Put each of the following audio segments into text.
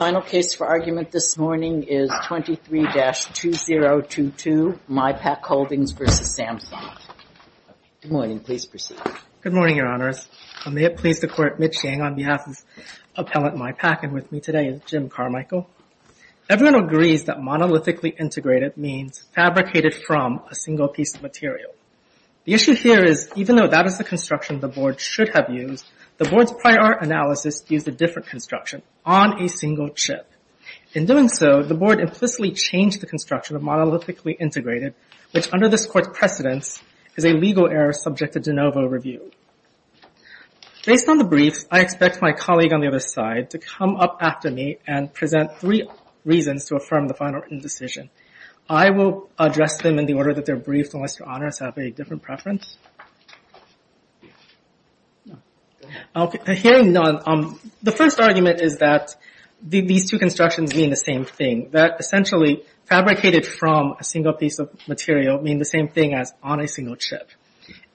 The final case for argument this morning is 23-2022, MYPAQ Holdings v. Samsung. Good morning, please proceed. Good morning, Your Honors. May it please the Court, Mitch Yang on behalf of Appellant MYPAQ and with me today is Jim Carmichael. Everyone agrees that monolithically integrated means fabricated from a single piece of material. The issue here is even though that is the construction the Board should have used, the Board's prior analysis used a different construction on a single chip. In doing so, the Board implicitly changed the construction of monolithically integrated, which under this Court's precedence is a legal error subject to de novo review. Based on the briefs, I expect my colleague on the other side to come up after me and present three reasons to affirm the final written decision. I will address them in the order that they're briefed unless Your Honors have a different preference. Hearing none, the first argument is that these two constructions mean the same thing, that essentially fabricated from a single piece of material means the same thing as on a single chip.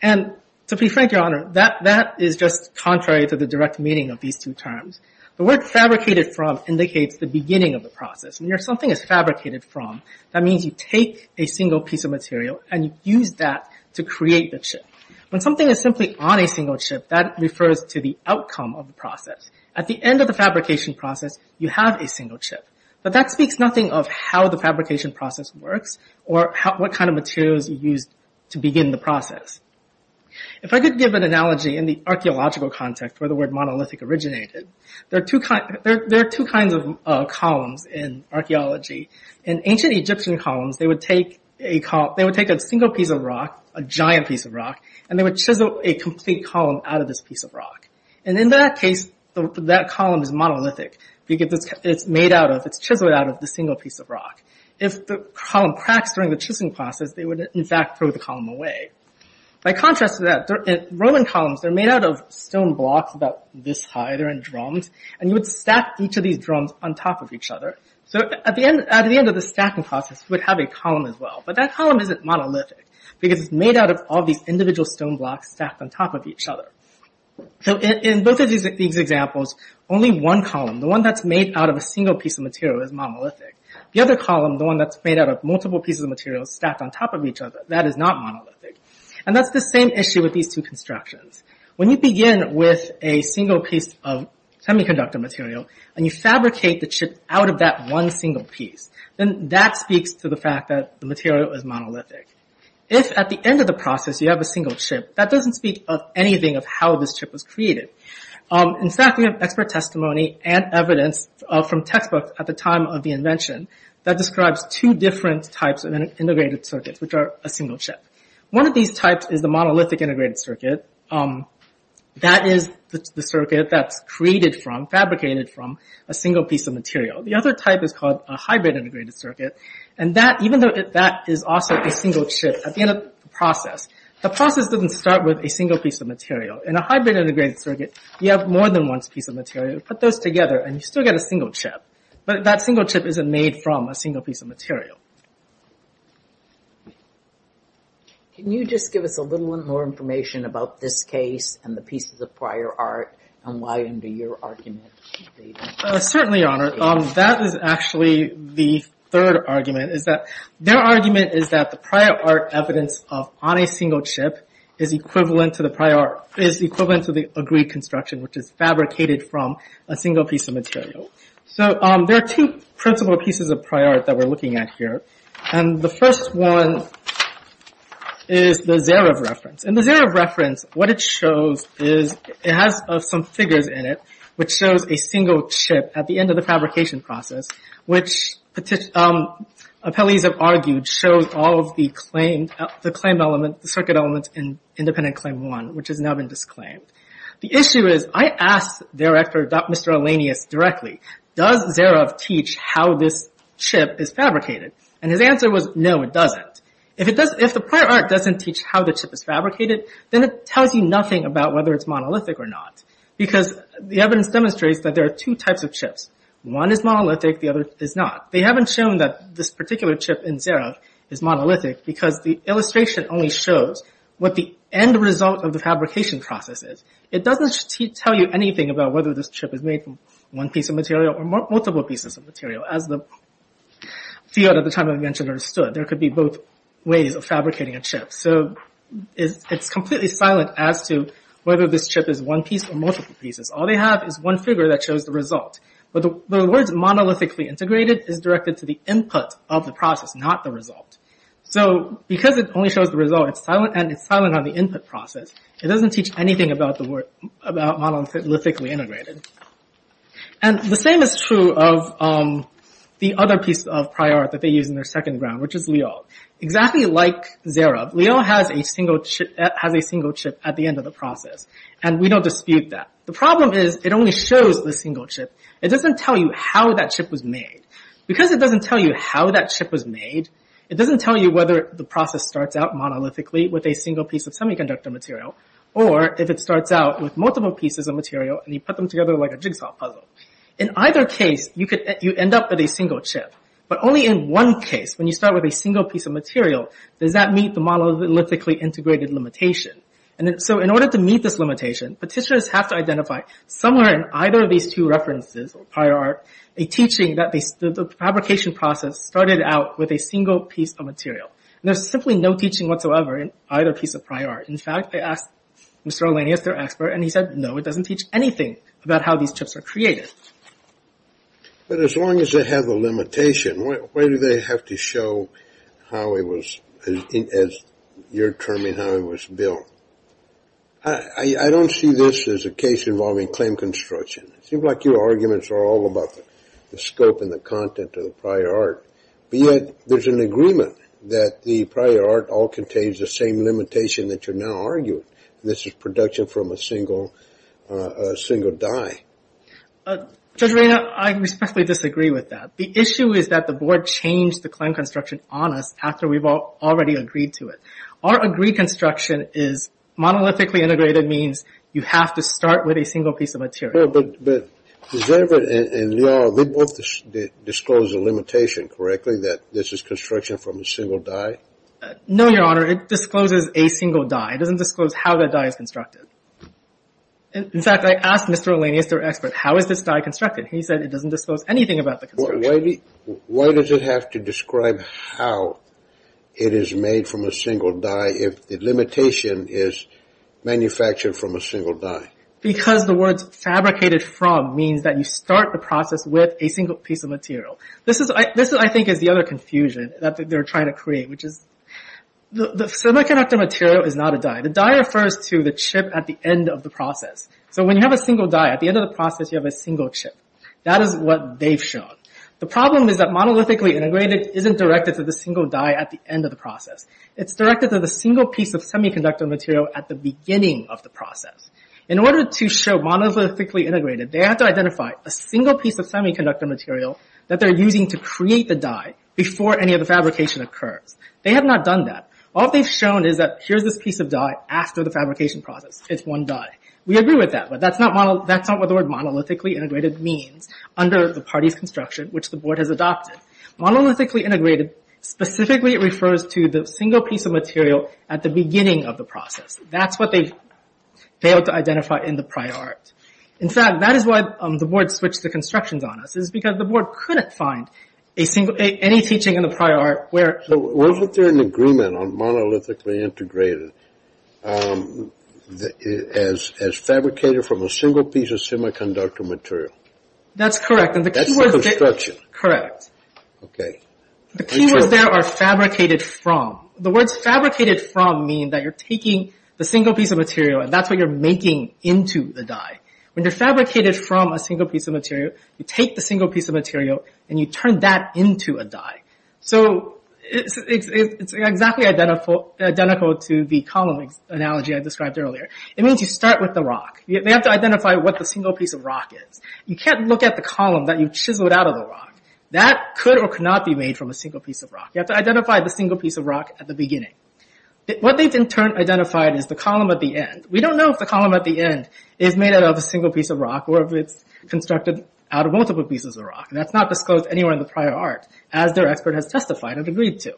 And to be frank, Your Honor, that is just contrary to the direct meaning of these two terms. The word fabricated from indicates the beginning of the process. When something is fabricated from, that means you take a single piece of material and you use that to create the chip. When something is simply on a single chip, that refers to the outcome of the process. At the end of the fabrication process, you have a single chip. But that speaks nothing of how the fabrication process works or what kind of materials are used to begin the process. If I could give an analogy in the archaeological context where the word monolithic originated, there are two kinds of columns in archaeology. In ancient Egyptian columns, they would take a single piece of rock, a giant piece of rock, and they would chisel a complete column out of this piece of rock. And in that case, that column is monolithic because it's chiseled out of the single piece of rock. If the column cracks during the chiseling process, they would, in fact, throw the column away. By contrast to that, Roman columns, they're made out of stone blocks about this high. They're in drums. And you would stack each of these drums on top of each other. At the end of the stacking process, you would have a column as well. But that column isn't monolithic because it's made out of all these individual stone blocks stacked on top of each other. In both of these examples, only one column, the one that's made out of a single piece of material, is monolithic. The other column, the one that's made out of multiple pieces of material stacked on top of each other, that is not monolithic. And that's the same issue with these two constructions. When you begin with a single piece of semiconductor material and you fabricate the chip out of that one single piece, then that speaks to the fact that the material is monolithic. If, at the end of the process, you have a single chip, that doesn't speak of anything of how this chip was created. In fact, we have expert testimony and evidence from textbooks at the time of the invention that describes two different types of integrated circuits, which are a single chip. One of these types is the monolithic integrated circuit. That is the circuit that's created from, fabricated from, a single piece of material. The other type is called a hybrid integrated circuit. And that, even though that is also a single chip, at the end of the process, the process doesn't start with a single piece of material. In a hybrid integrated circuit, you have more than one piece of material. You put those together and you still get a single chip. But that single chip isn't made from a single piece of material. Can you just give us a little bit more information about this case, and the pieces of prior art, and why, under your argument? Certainly, Your Honor. That is actually the third argument. Their argument is that the prior art evidence on a single chip is equivalent to the agreed construction, which is fabricated from a single piece of material. There are two principal pieces of prior art that we're looking at here. And the first one is the Zarev reference. In the Zarev reference, what it shows is, it has some figures in it, which shows a single chip at the end of the fabrication process, which, appellees have argued, shows all of the claim elements, the circuit elements in independent claim one, which has now been disclaimed. The issue is, I asked the director, Mr. Alanius, directly, does Zarev teach how this chip is fabricated? And his answer was, no, it doesn't. If the prior art doesn't teach how the chip is fabricated, then it tells you nothing about whether it's monolithic or not. Because the evidence demonstrates that there are two types of chips. One is monolithic, the other is not. They haven't shown that this particular chip in Zarev is monolithic, because the illustration only shows what the end result of the fabrication process is. It doesn't tell you anything about whether this chip is made from one piece of material or multiple pieces of material, as the field at the time of invention understood. There could be both ways of fabricating a chip. So, it's completely silent as to whether this chip is one piece or multiple pieces. All they have is one figure that shows the result. But the words monolithically integrated is directed to the input of the process, not the result. So, because it only shows the result, and it's silent on the input process, it doesn't teach anything about monolithically integrated. And the same is true of the other piece of prior art that they use in their second round, which is Lyo. Exactly like Zarev, Lyo has a single chip at the end of the process. And we don't dispute that. The problem is, it only shows the single chip. It doesn't tell you how that chip was made. Because it doesn't tell you how that chip was made, it doesn't tell you whether the process starts out monolithically with a single piece of semiconductor material, or if it starts out with multiple pieces of material and you put them together like a jigsaw puzzle. In either case, you end up with a single chip. But only in one case, when you start with a single piece of material, does that meet the monolithically integrated limitation. So, in order to meet this limitation, petitioners have to identify somewhere in either of these two references, or prior art, a teaching that the fabrication process started out with a single piece of material. And there's simply no teaching whatsoever in either piece of prior art. In fact, they asked Mr. Alanius, their expert, and he said, no, it doesn't teach anything about how these chips are created. But as long as they have the limitation, why do they have to show how it was, as your terming, how it was built? I don't see this as a case involving claim construction. It seems like your arguments are all about the scope and the content of the prior art. But yet, there's an agreement that the prior art all contains the same limitation that you're now arguing. And this is production from a single die. Judge Reina, I respectfully disagree with that. The issue is that the board changed the claim construction on us after we've already agreed to it. Our agreed construction is monolithically integrated means you have to start with a single piece of material. But they both disclosed the limitation correctly that this is construction from a single die. No, Your Honor, it discloses a single die. It doesn't disclose how the die is constructed. In fact, I asked Mr. Alanius, their expert, how is this die constructed? He said it doesn't disclose anything about the construction. Why does it have to describe how it is made from a single die if the limitation is manufactured from a single die? Because the words fabricated from means that you start the process with a single piece of material. This, I think, is the other confusion that they're trying to create. The semiconductor material is not a die. The die refers to the chip at the end of the process. So when you have a single die, at the end of the process, you have a single chip. That is what they've shown. The problem is that monolithically integrated isn't directed to the single die at the end of the process. It's directed to the single piece of semiconductor material at the beginning of the process. In order to show monolithically integrated, they have to identify a single piece of semiconductor material that they're using to create the die before any of the fabrication occurs. They have not done that. All they've shown is that here's this piece of die after the fabrication process. It's one die. We agree with that, but that's not what the word monolithically integrated means under the party's construction, which the board has adopted. Monolithically integrated specifically refers to the single piece of material at the beginning of the process. That's what they've failed to identify in the prior art. In fact, that is why the board switched the constructions on us, is because the board couldn't find any teaching in the prior art where – So wasn't there an agreement on monolithically integrated as fabricated from a single piece of semiconductor material? That's correct. That's the construction. Correct. Okay. The key words there are fabricated from. The words fabricated from mean that you're taking the single piece of material, and that's what you're making into the die. When you're fabricated from a single piece of material, you take the single piece of material, and you turn that into a die. So it's exactly identical to the column analogy I described earlier. It means you start with the rock. You have to identify what the single piece of rock is. You can't look at the column that you've chiseled out of the rock. That could or could not be made from a single piece of rock. You have to identify the single piece of rock at the beginning. What they've in turn identified is the column at the end. We don't know if the column at the end is made out of a single piece of rock or if it's constructed out of multiple pieces of rock, and that's not disclosed anywhere in the prior art, as their expert has testified and agreed to.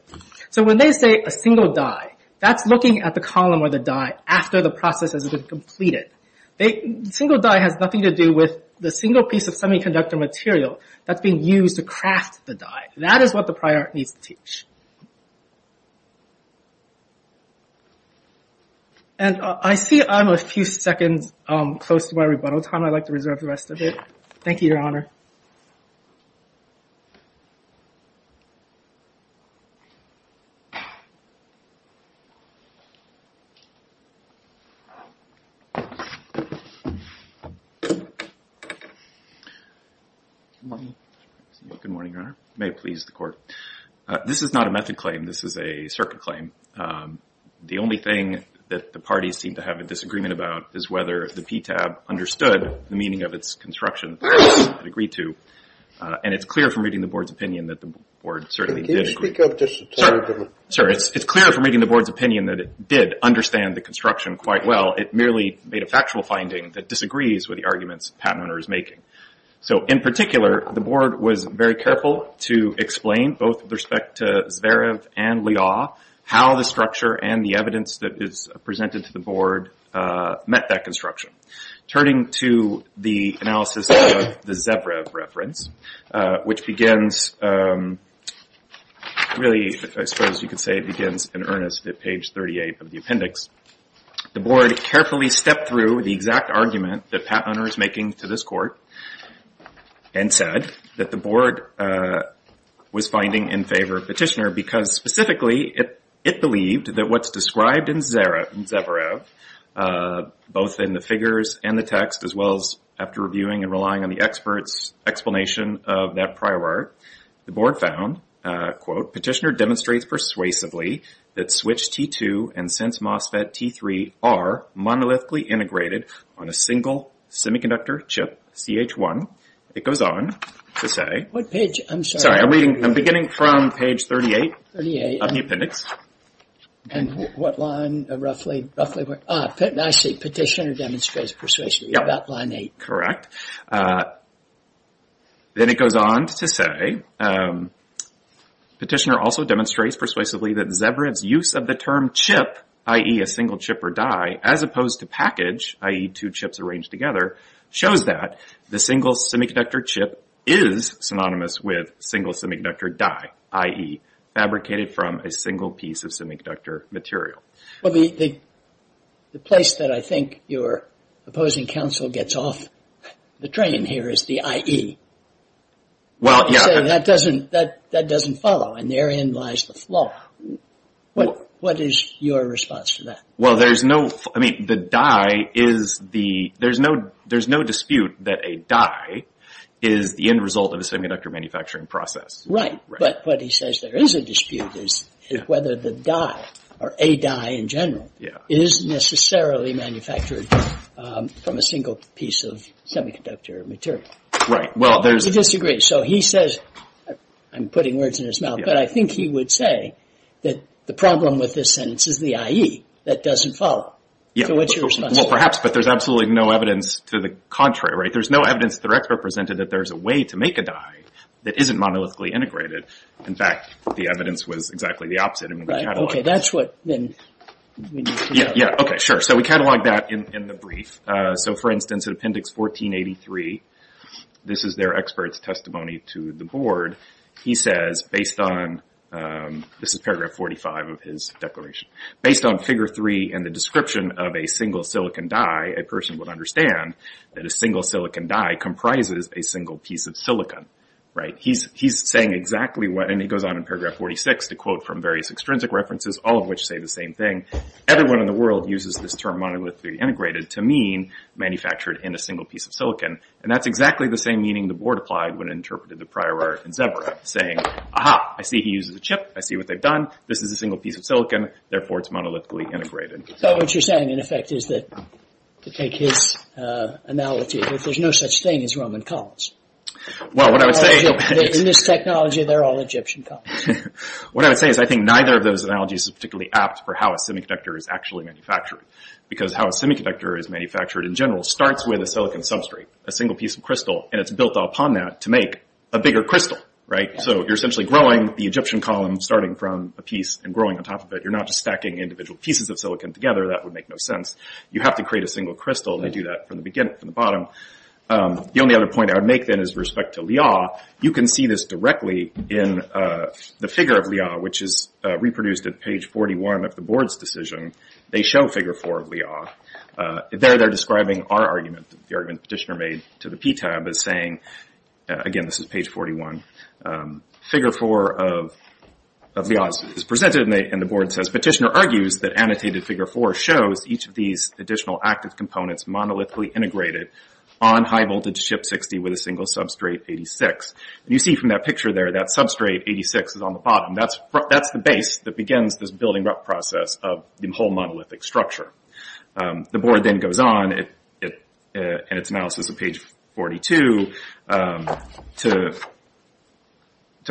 So when they say a single die, that's looking at the column or the die after the process has been completed. The single die has nothing to do with the single piece of semiconductor material that's being used to craft the die. That is what the prior art needs to teach. And I see I'm a few seconds close to my rebuttal time. I'd like to reserve the rest of it. Thank you, Your Honor. Your Honor? Good morning, Your Honor. May it please the Court. This is not a method claim. This is a circuit claim. The only thing that the parties seem to have a disagreement about is whether the PTAB understood the meaning of its construction. And it's clear from reading the Board's opinion that the Board certainly did agree. Can you speak up just a tiny bit? Sure. It's clear from reading the Board's opinion that it did understand the construction quite well. It merely made a factual finding that disagrees with the arguments the patent owner is making. So in particular, the Board was very careful to explain, both with respect to Zverev and Liaw, how the structure and the evidence that is presented to the Board met that construction. Turning to the analysis of the Zverev reference, which begins, really, I suppose you could say it begins in earnest at page 38 of the appendix, the Board carefully stepped through the exact argument that the patent owner is making to this Court and said that the Board was finding in favor of Petitioner because specifically it believed that what's described in Zverev, both in the figures and the text, as well as after reviewing and relying on the expert's explanation of that prior art, the Board found, quote, Petitioner demonstrates persuasively that Switch T2 and Sense MOSFET T3 are monolithically integrated on a single semiconductor chip, CH1. It goes on to say... What page? I'm sorry. Sorry, I'm beginning from page 38 of the appendix. And what line, roughly? I see, Petitioner demonstrates persuasively about line 8. Correct. Then it goes on to say, Petitioner also demonstrates persuasively that Zverev's use of the term chip, i.e. a single chip or die, as opposed to package, i.e. two chips arranged together, shows that the single semiconductor chip is synonymous with single semiconductor die, i.e. fabricated from a single piece of semiconductor material. Well, the place that I think your opposing counsel gets off the train here is the IE. Well, yeah. That doesn't follow, and therein lies the flaw. What is your response to that? Well, there's no... I mean, the die is the... there's no dispute that a die is the end result of a semiconductor manufacturing process. Right, but what he says there is a dispute is whether the die, or a die in general, is necessarily manufactured from a single piece of semiconductor material. Right, well, there's... He disagrees. So he says... I'm putting words in his mouth, but I think he would say that the problem with this sentence is the IE. That doesn't follow. So what's your response? Well, perhaps, but there's absolutely no evidence to the contrary, right? There's no evidence that their expert presented that there's a way to make a die that isn't monolithically integrated. In fact, the evidence was exactly the opposite. Okay, that's what... Yeah, okay, sure. So we catalog that in the brief. So, for instance, in Appendix 1483, this is their expert's testimony to the board. He says, based on... this is Paragraph 45 of his declaration. Based on Figure 3 and the description of a single silicon die, a person would understand that a single silicon die comprises a single piece of silicon. Right, he's saying exactly what... and he goes on in Paragraph 46 to quote from various extrinsic references, all of which say the same thing. Everyone in the world uses this term monolithically integrated to mean manufactured in a single piece of silicon. And that's exactly the same meaning the board applied when it interpreted the prior art in Zebra, saying, Aha, I see he uses a chip, I see what they've done, this is a single piece of silicon, therefore it's monolithically integrated. So what you're saying, in effect, is that, to take his analogy, that there's no such thing as Roman columns. Well, what I would say... In this technology, they're all Egyptian columns. What I would say is I think neither of those analogies is particularly apt for how a semiconductor is actually manufactured. Because how a semiconductor is manufactured in general starts with a silicon substrate, a single piece of crystal, and it's built upon that to make a bigger crystal, right? So you're essentially growing the Egyptian column starting from a piece and growing on top of it. You're not just stacking individual pieces of silicon together. That would make no sense. You have to create a single crystal, and they do that from the beginning, from the bottom. The only other point I would make, then, is with respect to Liaw. You can see this directly in the figure of Liaw, which is reproduced at page 41 of the board's decision. They show figure four of Liaw. There they're describing our argument, the argument Petitioner made to the PTAB, as saying... Again, this is page 41. Figure four of Liaw is presented, and the board says, Petitioner argues that annotated figure four shows each of these additional active components monolithically integrated on high-voltage chip 60 with a single substrate 86. And you see from that picture there, that substrate 86 is on the bottom. That's the base that begins this building up process of the whole monolithic structure. The board then goes on in its analysis at page 42 to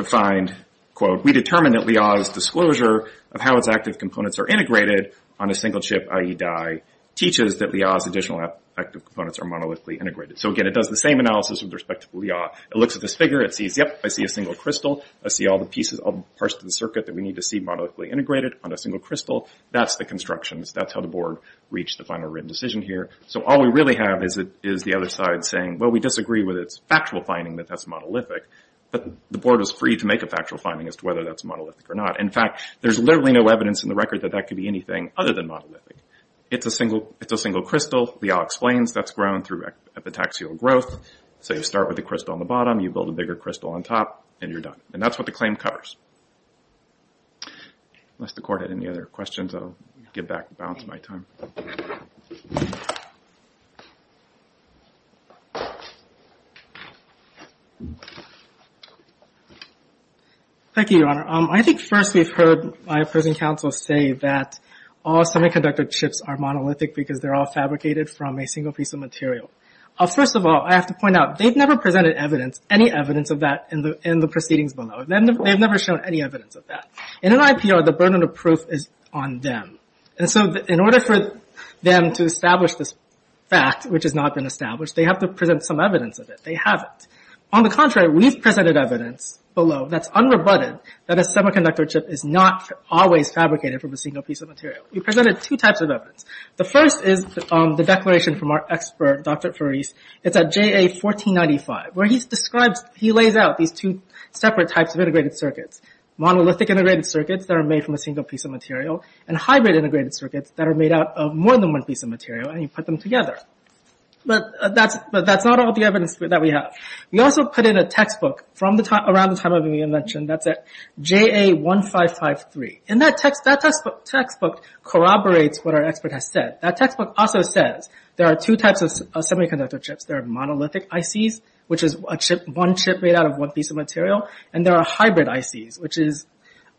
find, quote, we determine that Liaw's disclosure of how its active components are integrated on a single chip, i.e. dye, teaches that Liaw's additional active components are monolithically integrated. So, again, it does the same analysis with respect to Liaw. It looks at this figure. It sees, yep, I see a single crystal. I see all the parts of the circuit that we need to see monolithically integrated on a single crystal. That's the constructions. That's how the board reached the final written decision here. So all we really have is the other side saying, well, we disagree with its factual finding that that's monolithic. But the board is free to make a factual finding as to whether that's monolithic or not. In fact, there's literally no evidence in the record that that could be anything other than monolithic. It's a single crystal. Liaw explains that's grown through epitaxial growth. So you start with the crystal on the bottom. You build a bigger crystal on top, and you're done. And that's what the claim covers. Unless the court had any other questions, I'll give back the balance of my time. Thank you, Your Honor. I think first we've heard my opposing counsel say that all semiconductor chips are monolithic because they're all fabricated from a single piece of material. First of all, I have to point out, they've never presented any evidence of that in the proceedings below. They've never shown any evidence of that. In an IPR, the burden of proof is on them. And so in order for them to establish this fact, which has not been established, they have to present some evidence of it. They haven't. On the contrary, we've presented evidence below that's unrebutted, that a semiconductor chip is not always fabricated from a single piece of material. We presented two types of evidence. The first is the declaration from our expert, Dr. Faris. It's at JA 1495, where he lays out these two separate types of integrated circuits. Monolithic integrated circuits that are made from a single piece of material, and hybrid integrated circuits that are made out of more than one piece of material, and you put them together. But that's not all the evidence that we have. We also put in a textbook around the time I've been mentioned. That's at JA 1553. And that textbook corroborates what our expert has said. That textbook also says there are two types of semiconductor chips. There are monolithic ICs, which is one chip made out of one piece of material, and there are hybrid ICs.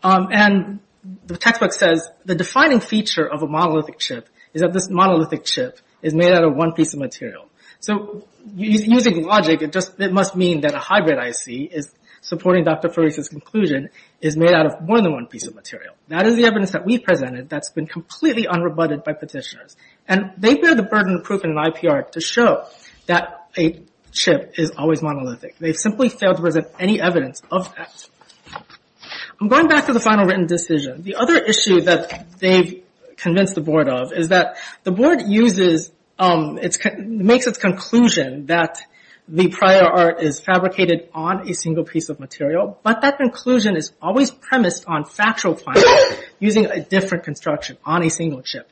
And the textbook says the defining feature of a monolithic chip is that this monolithic chip is made out of one piece of material. So using logic, it must mean that a hybrid IC, supporting Dr. Faris's conclusion, is made out of more than one piece of material. That is the evidence that we've presented that's been completely unrebutted by petitioners. And they bear the burden of proof in an IPR to show that a chip is always monolithic. They've simply failed to present any evidence of that. I'm going back to the final written decision. The other issue that they've convinced the board of is that the board makes its conclusion that the prior art is fabricated on a single piece of material, but that conclusion is always premised on factual findings using a different construction on a single chip.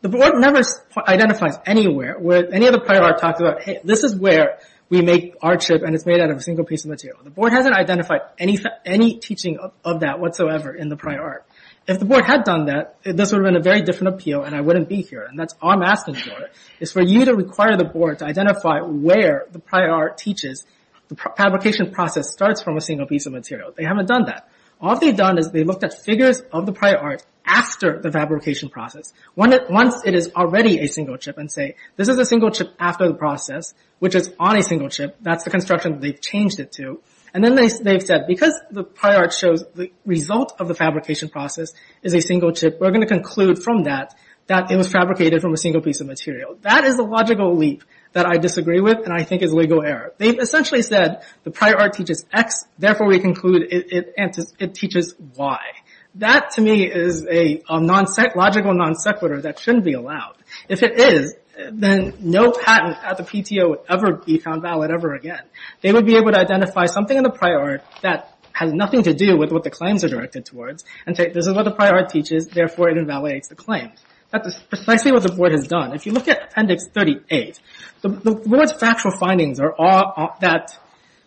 The board never identifies anywhere where any other prior art talks about, hey, this is where we make our chip and it's made out of a single piece of material. The board hasn't identified any teaching of that whatsoever in the prior art. If the board had done that, this would have been a very different appeal and I wouldn't be here. And that's what I'm asking for, is for you to require the board to identify where the prior art teaches the fabrication process starts from a single piece of material. They haven't done that. All they've done is they've looked at figures of the prior art after the fabrication process. Once it is already a single chip and say, this is a single chip after the process, which is on a single chip, that's the construction they've changed it to. And then they've said, because the prior art shows the result of the fabrication process is a single chip, we're going to conclude from that that it was fabricated from a single piece of material. That is a logical leap that I disagree with and I think is legal error. They've essentially said the prior art teaches X, therefore we conclude it teaches Y. That to me is a logical non sequitur that shouldn't be allowed. If it is, then no patent at the PTO would ever be found valid ever again. They would be able to identify something in the prior art that has nothing to do with what the claims are directed towards and say, this is what the prior art teaches, therefore it invalidates the claim. That is precisely what the board has done. If you look at Appendix 38, the board's factual findings are that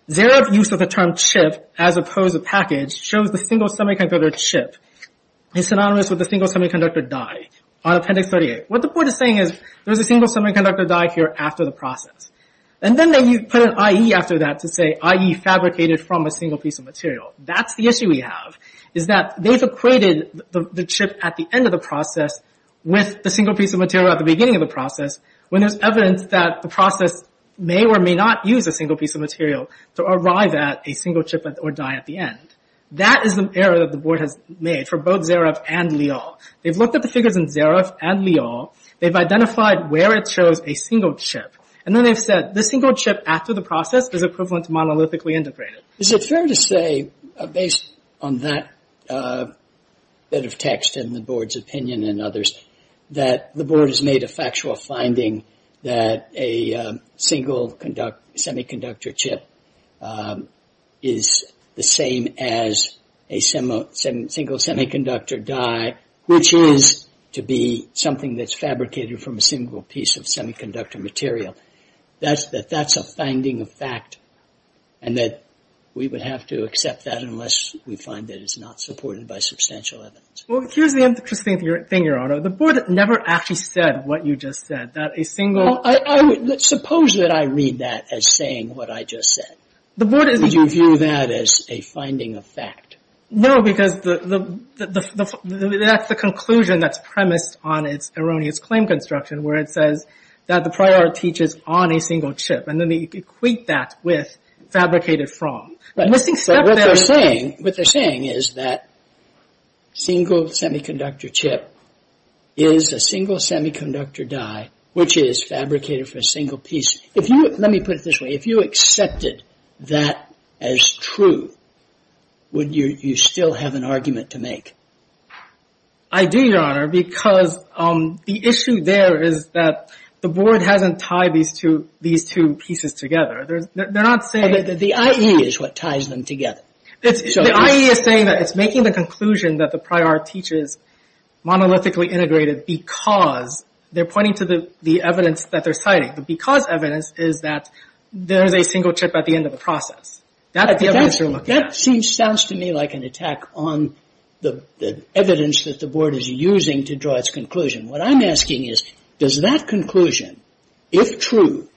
their use of the term chip as opposed to package shows the single semiconductor chip is synonymous with the single semiconductor die on Appendix 38. What the board is saying is there's a single semiconductor die here after the process. And then they put an IE after that to say IE fabricated from a single piece of material. That's the issue we have, is that they've equated the chip at the end of the process with the single piece of material at the beginning of the process when there's evidence that the process may or may not use a single piece of material to arrive at a single chip or die at the end. That is an error that the board has made for both Zareff and Leal. They've looked at the figures in Zareff and Leal. They've identified where it shows a single chip. And then they've said the single chip after the process is equivalent to monolithically integrated. Is it fair to say, based on that bit of text and the board's opinion and others, that the board has made a factual finding that a single semiconductor chip is the same as a single semiconductor die, which is to be something that's fabricated from a single piece of semiconductor material? That that's a finding of fact and that we would have to accept that unless we find that it's not supported by substantial evidence. Well, here's the interesting thing, Your Honor. The board never actually said what you just said, that a single... Suppose that I read that as saying what I just said. Would you view that as a finding of fact? No, because that's the conclusion that's premised on its erroneous claim construction where it says that the prior teaches on a single chip. And then they equate that with fabricated from. But what they're saying is that single semiconductor chip is a single semiconductor die, which is fabricated for a single piece. Let me put it this way. If you accepted that as true, would you still have an argument to make? I do, Your Honor, because the issue there is that the board hasn't tied these two pieces together. They're not saying... The IE is what ties them together. The IE is saying that it's making the conclusion that the prior teaches monolithically integrated because they're pointing to the evidence that they're citing. The because evidence is that there's a single chip at the end of the process. That sounds to me like an attack on the evidence that the board is using to draw its conclusion. What I'm asking is, does that conclusion, if true,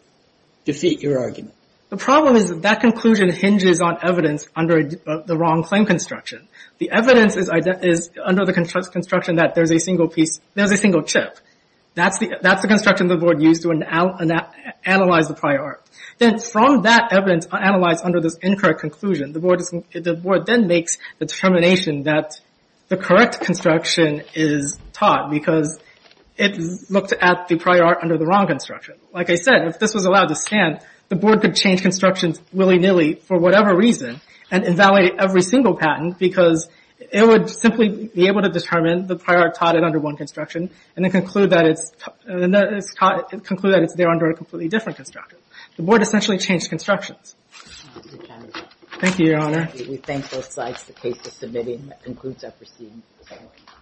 defeat your argument? The problem is that that conclusion hinges on evidence under the wrong claim construction. The evidence is under the construction that there's a single chip. That's the construction the board used to analyze the prior. Then from that evidence analyzed under this incorrect conclusion, the board then makes the determination that the correct construction is taught because it looked at the prior under the wrong construction. Like I said, if this was allowed to stand, the board could change constructions willy-nilly for whatever reason and invalidate every single patent because it would simply be able to determine that the prior taught it under one construction and conclude that it's there under a completely different construction. The board essentially changed constructions. Thank you, Your Honor. We thank both sides of the case for submitting. That concludes our proceedings.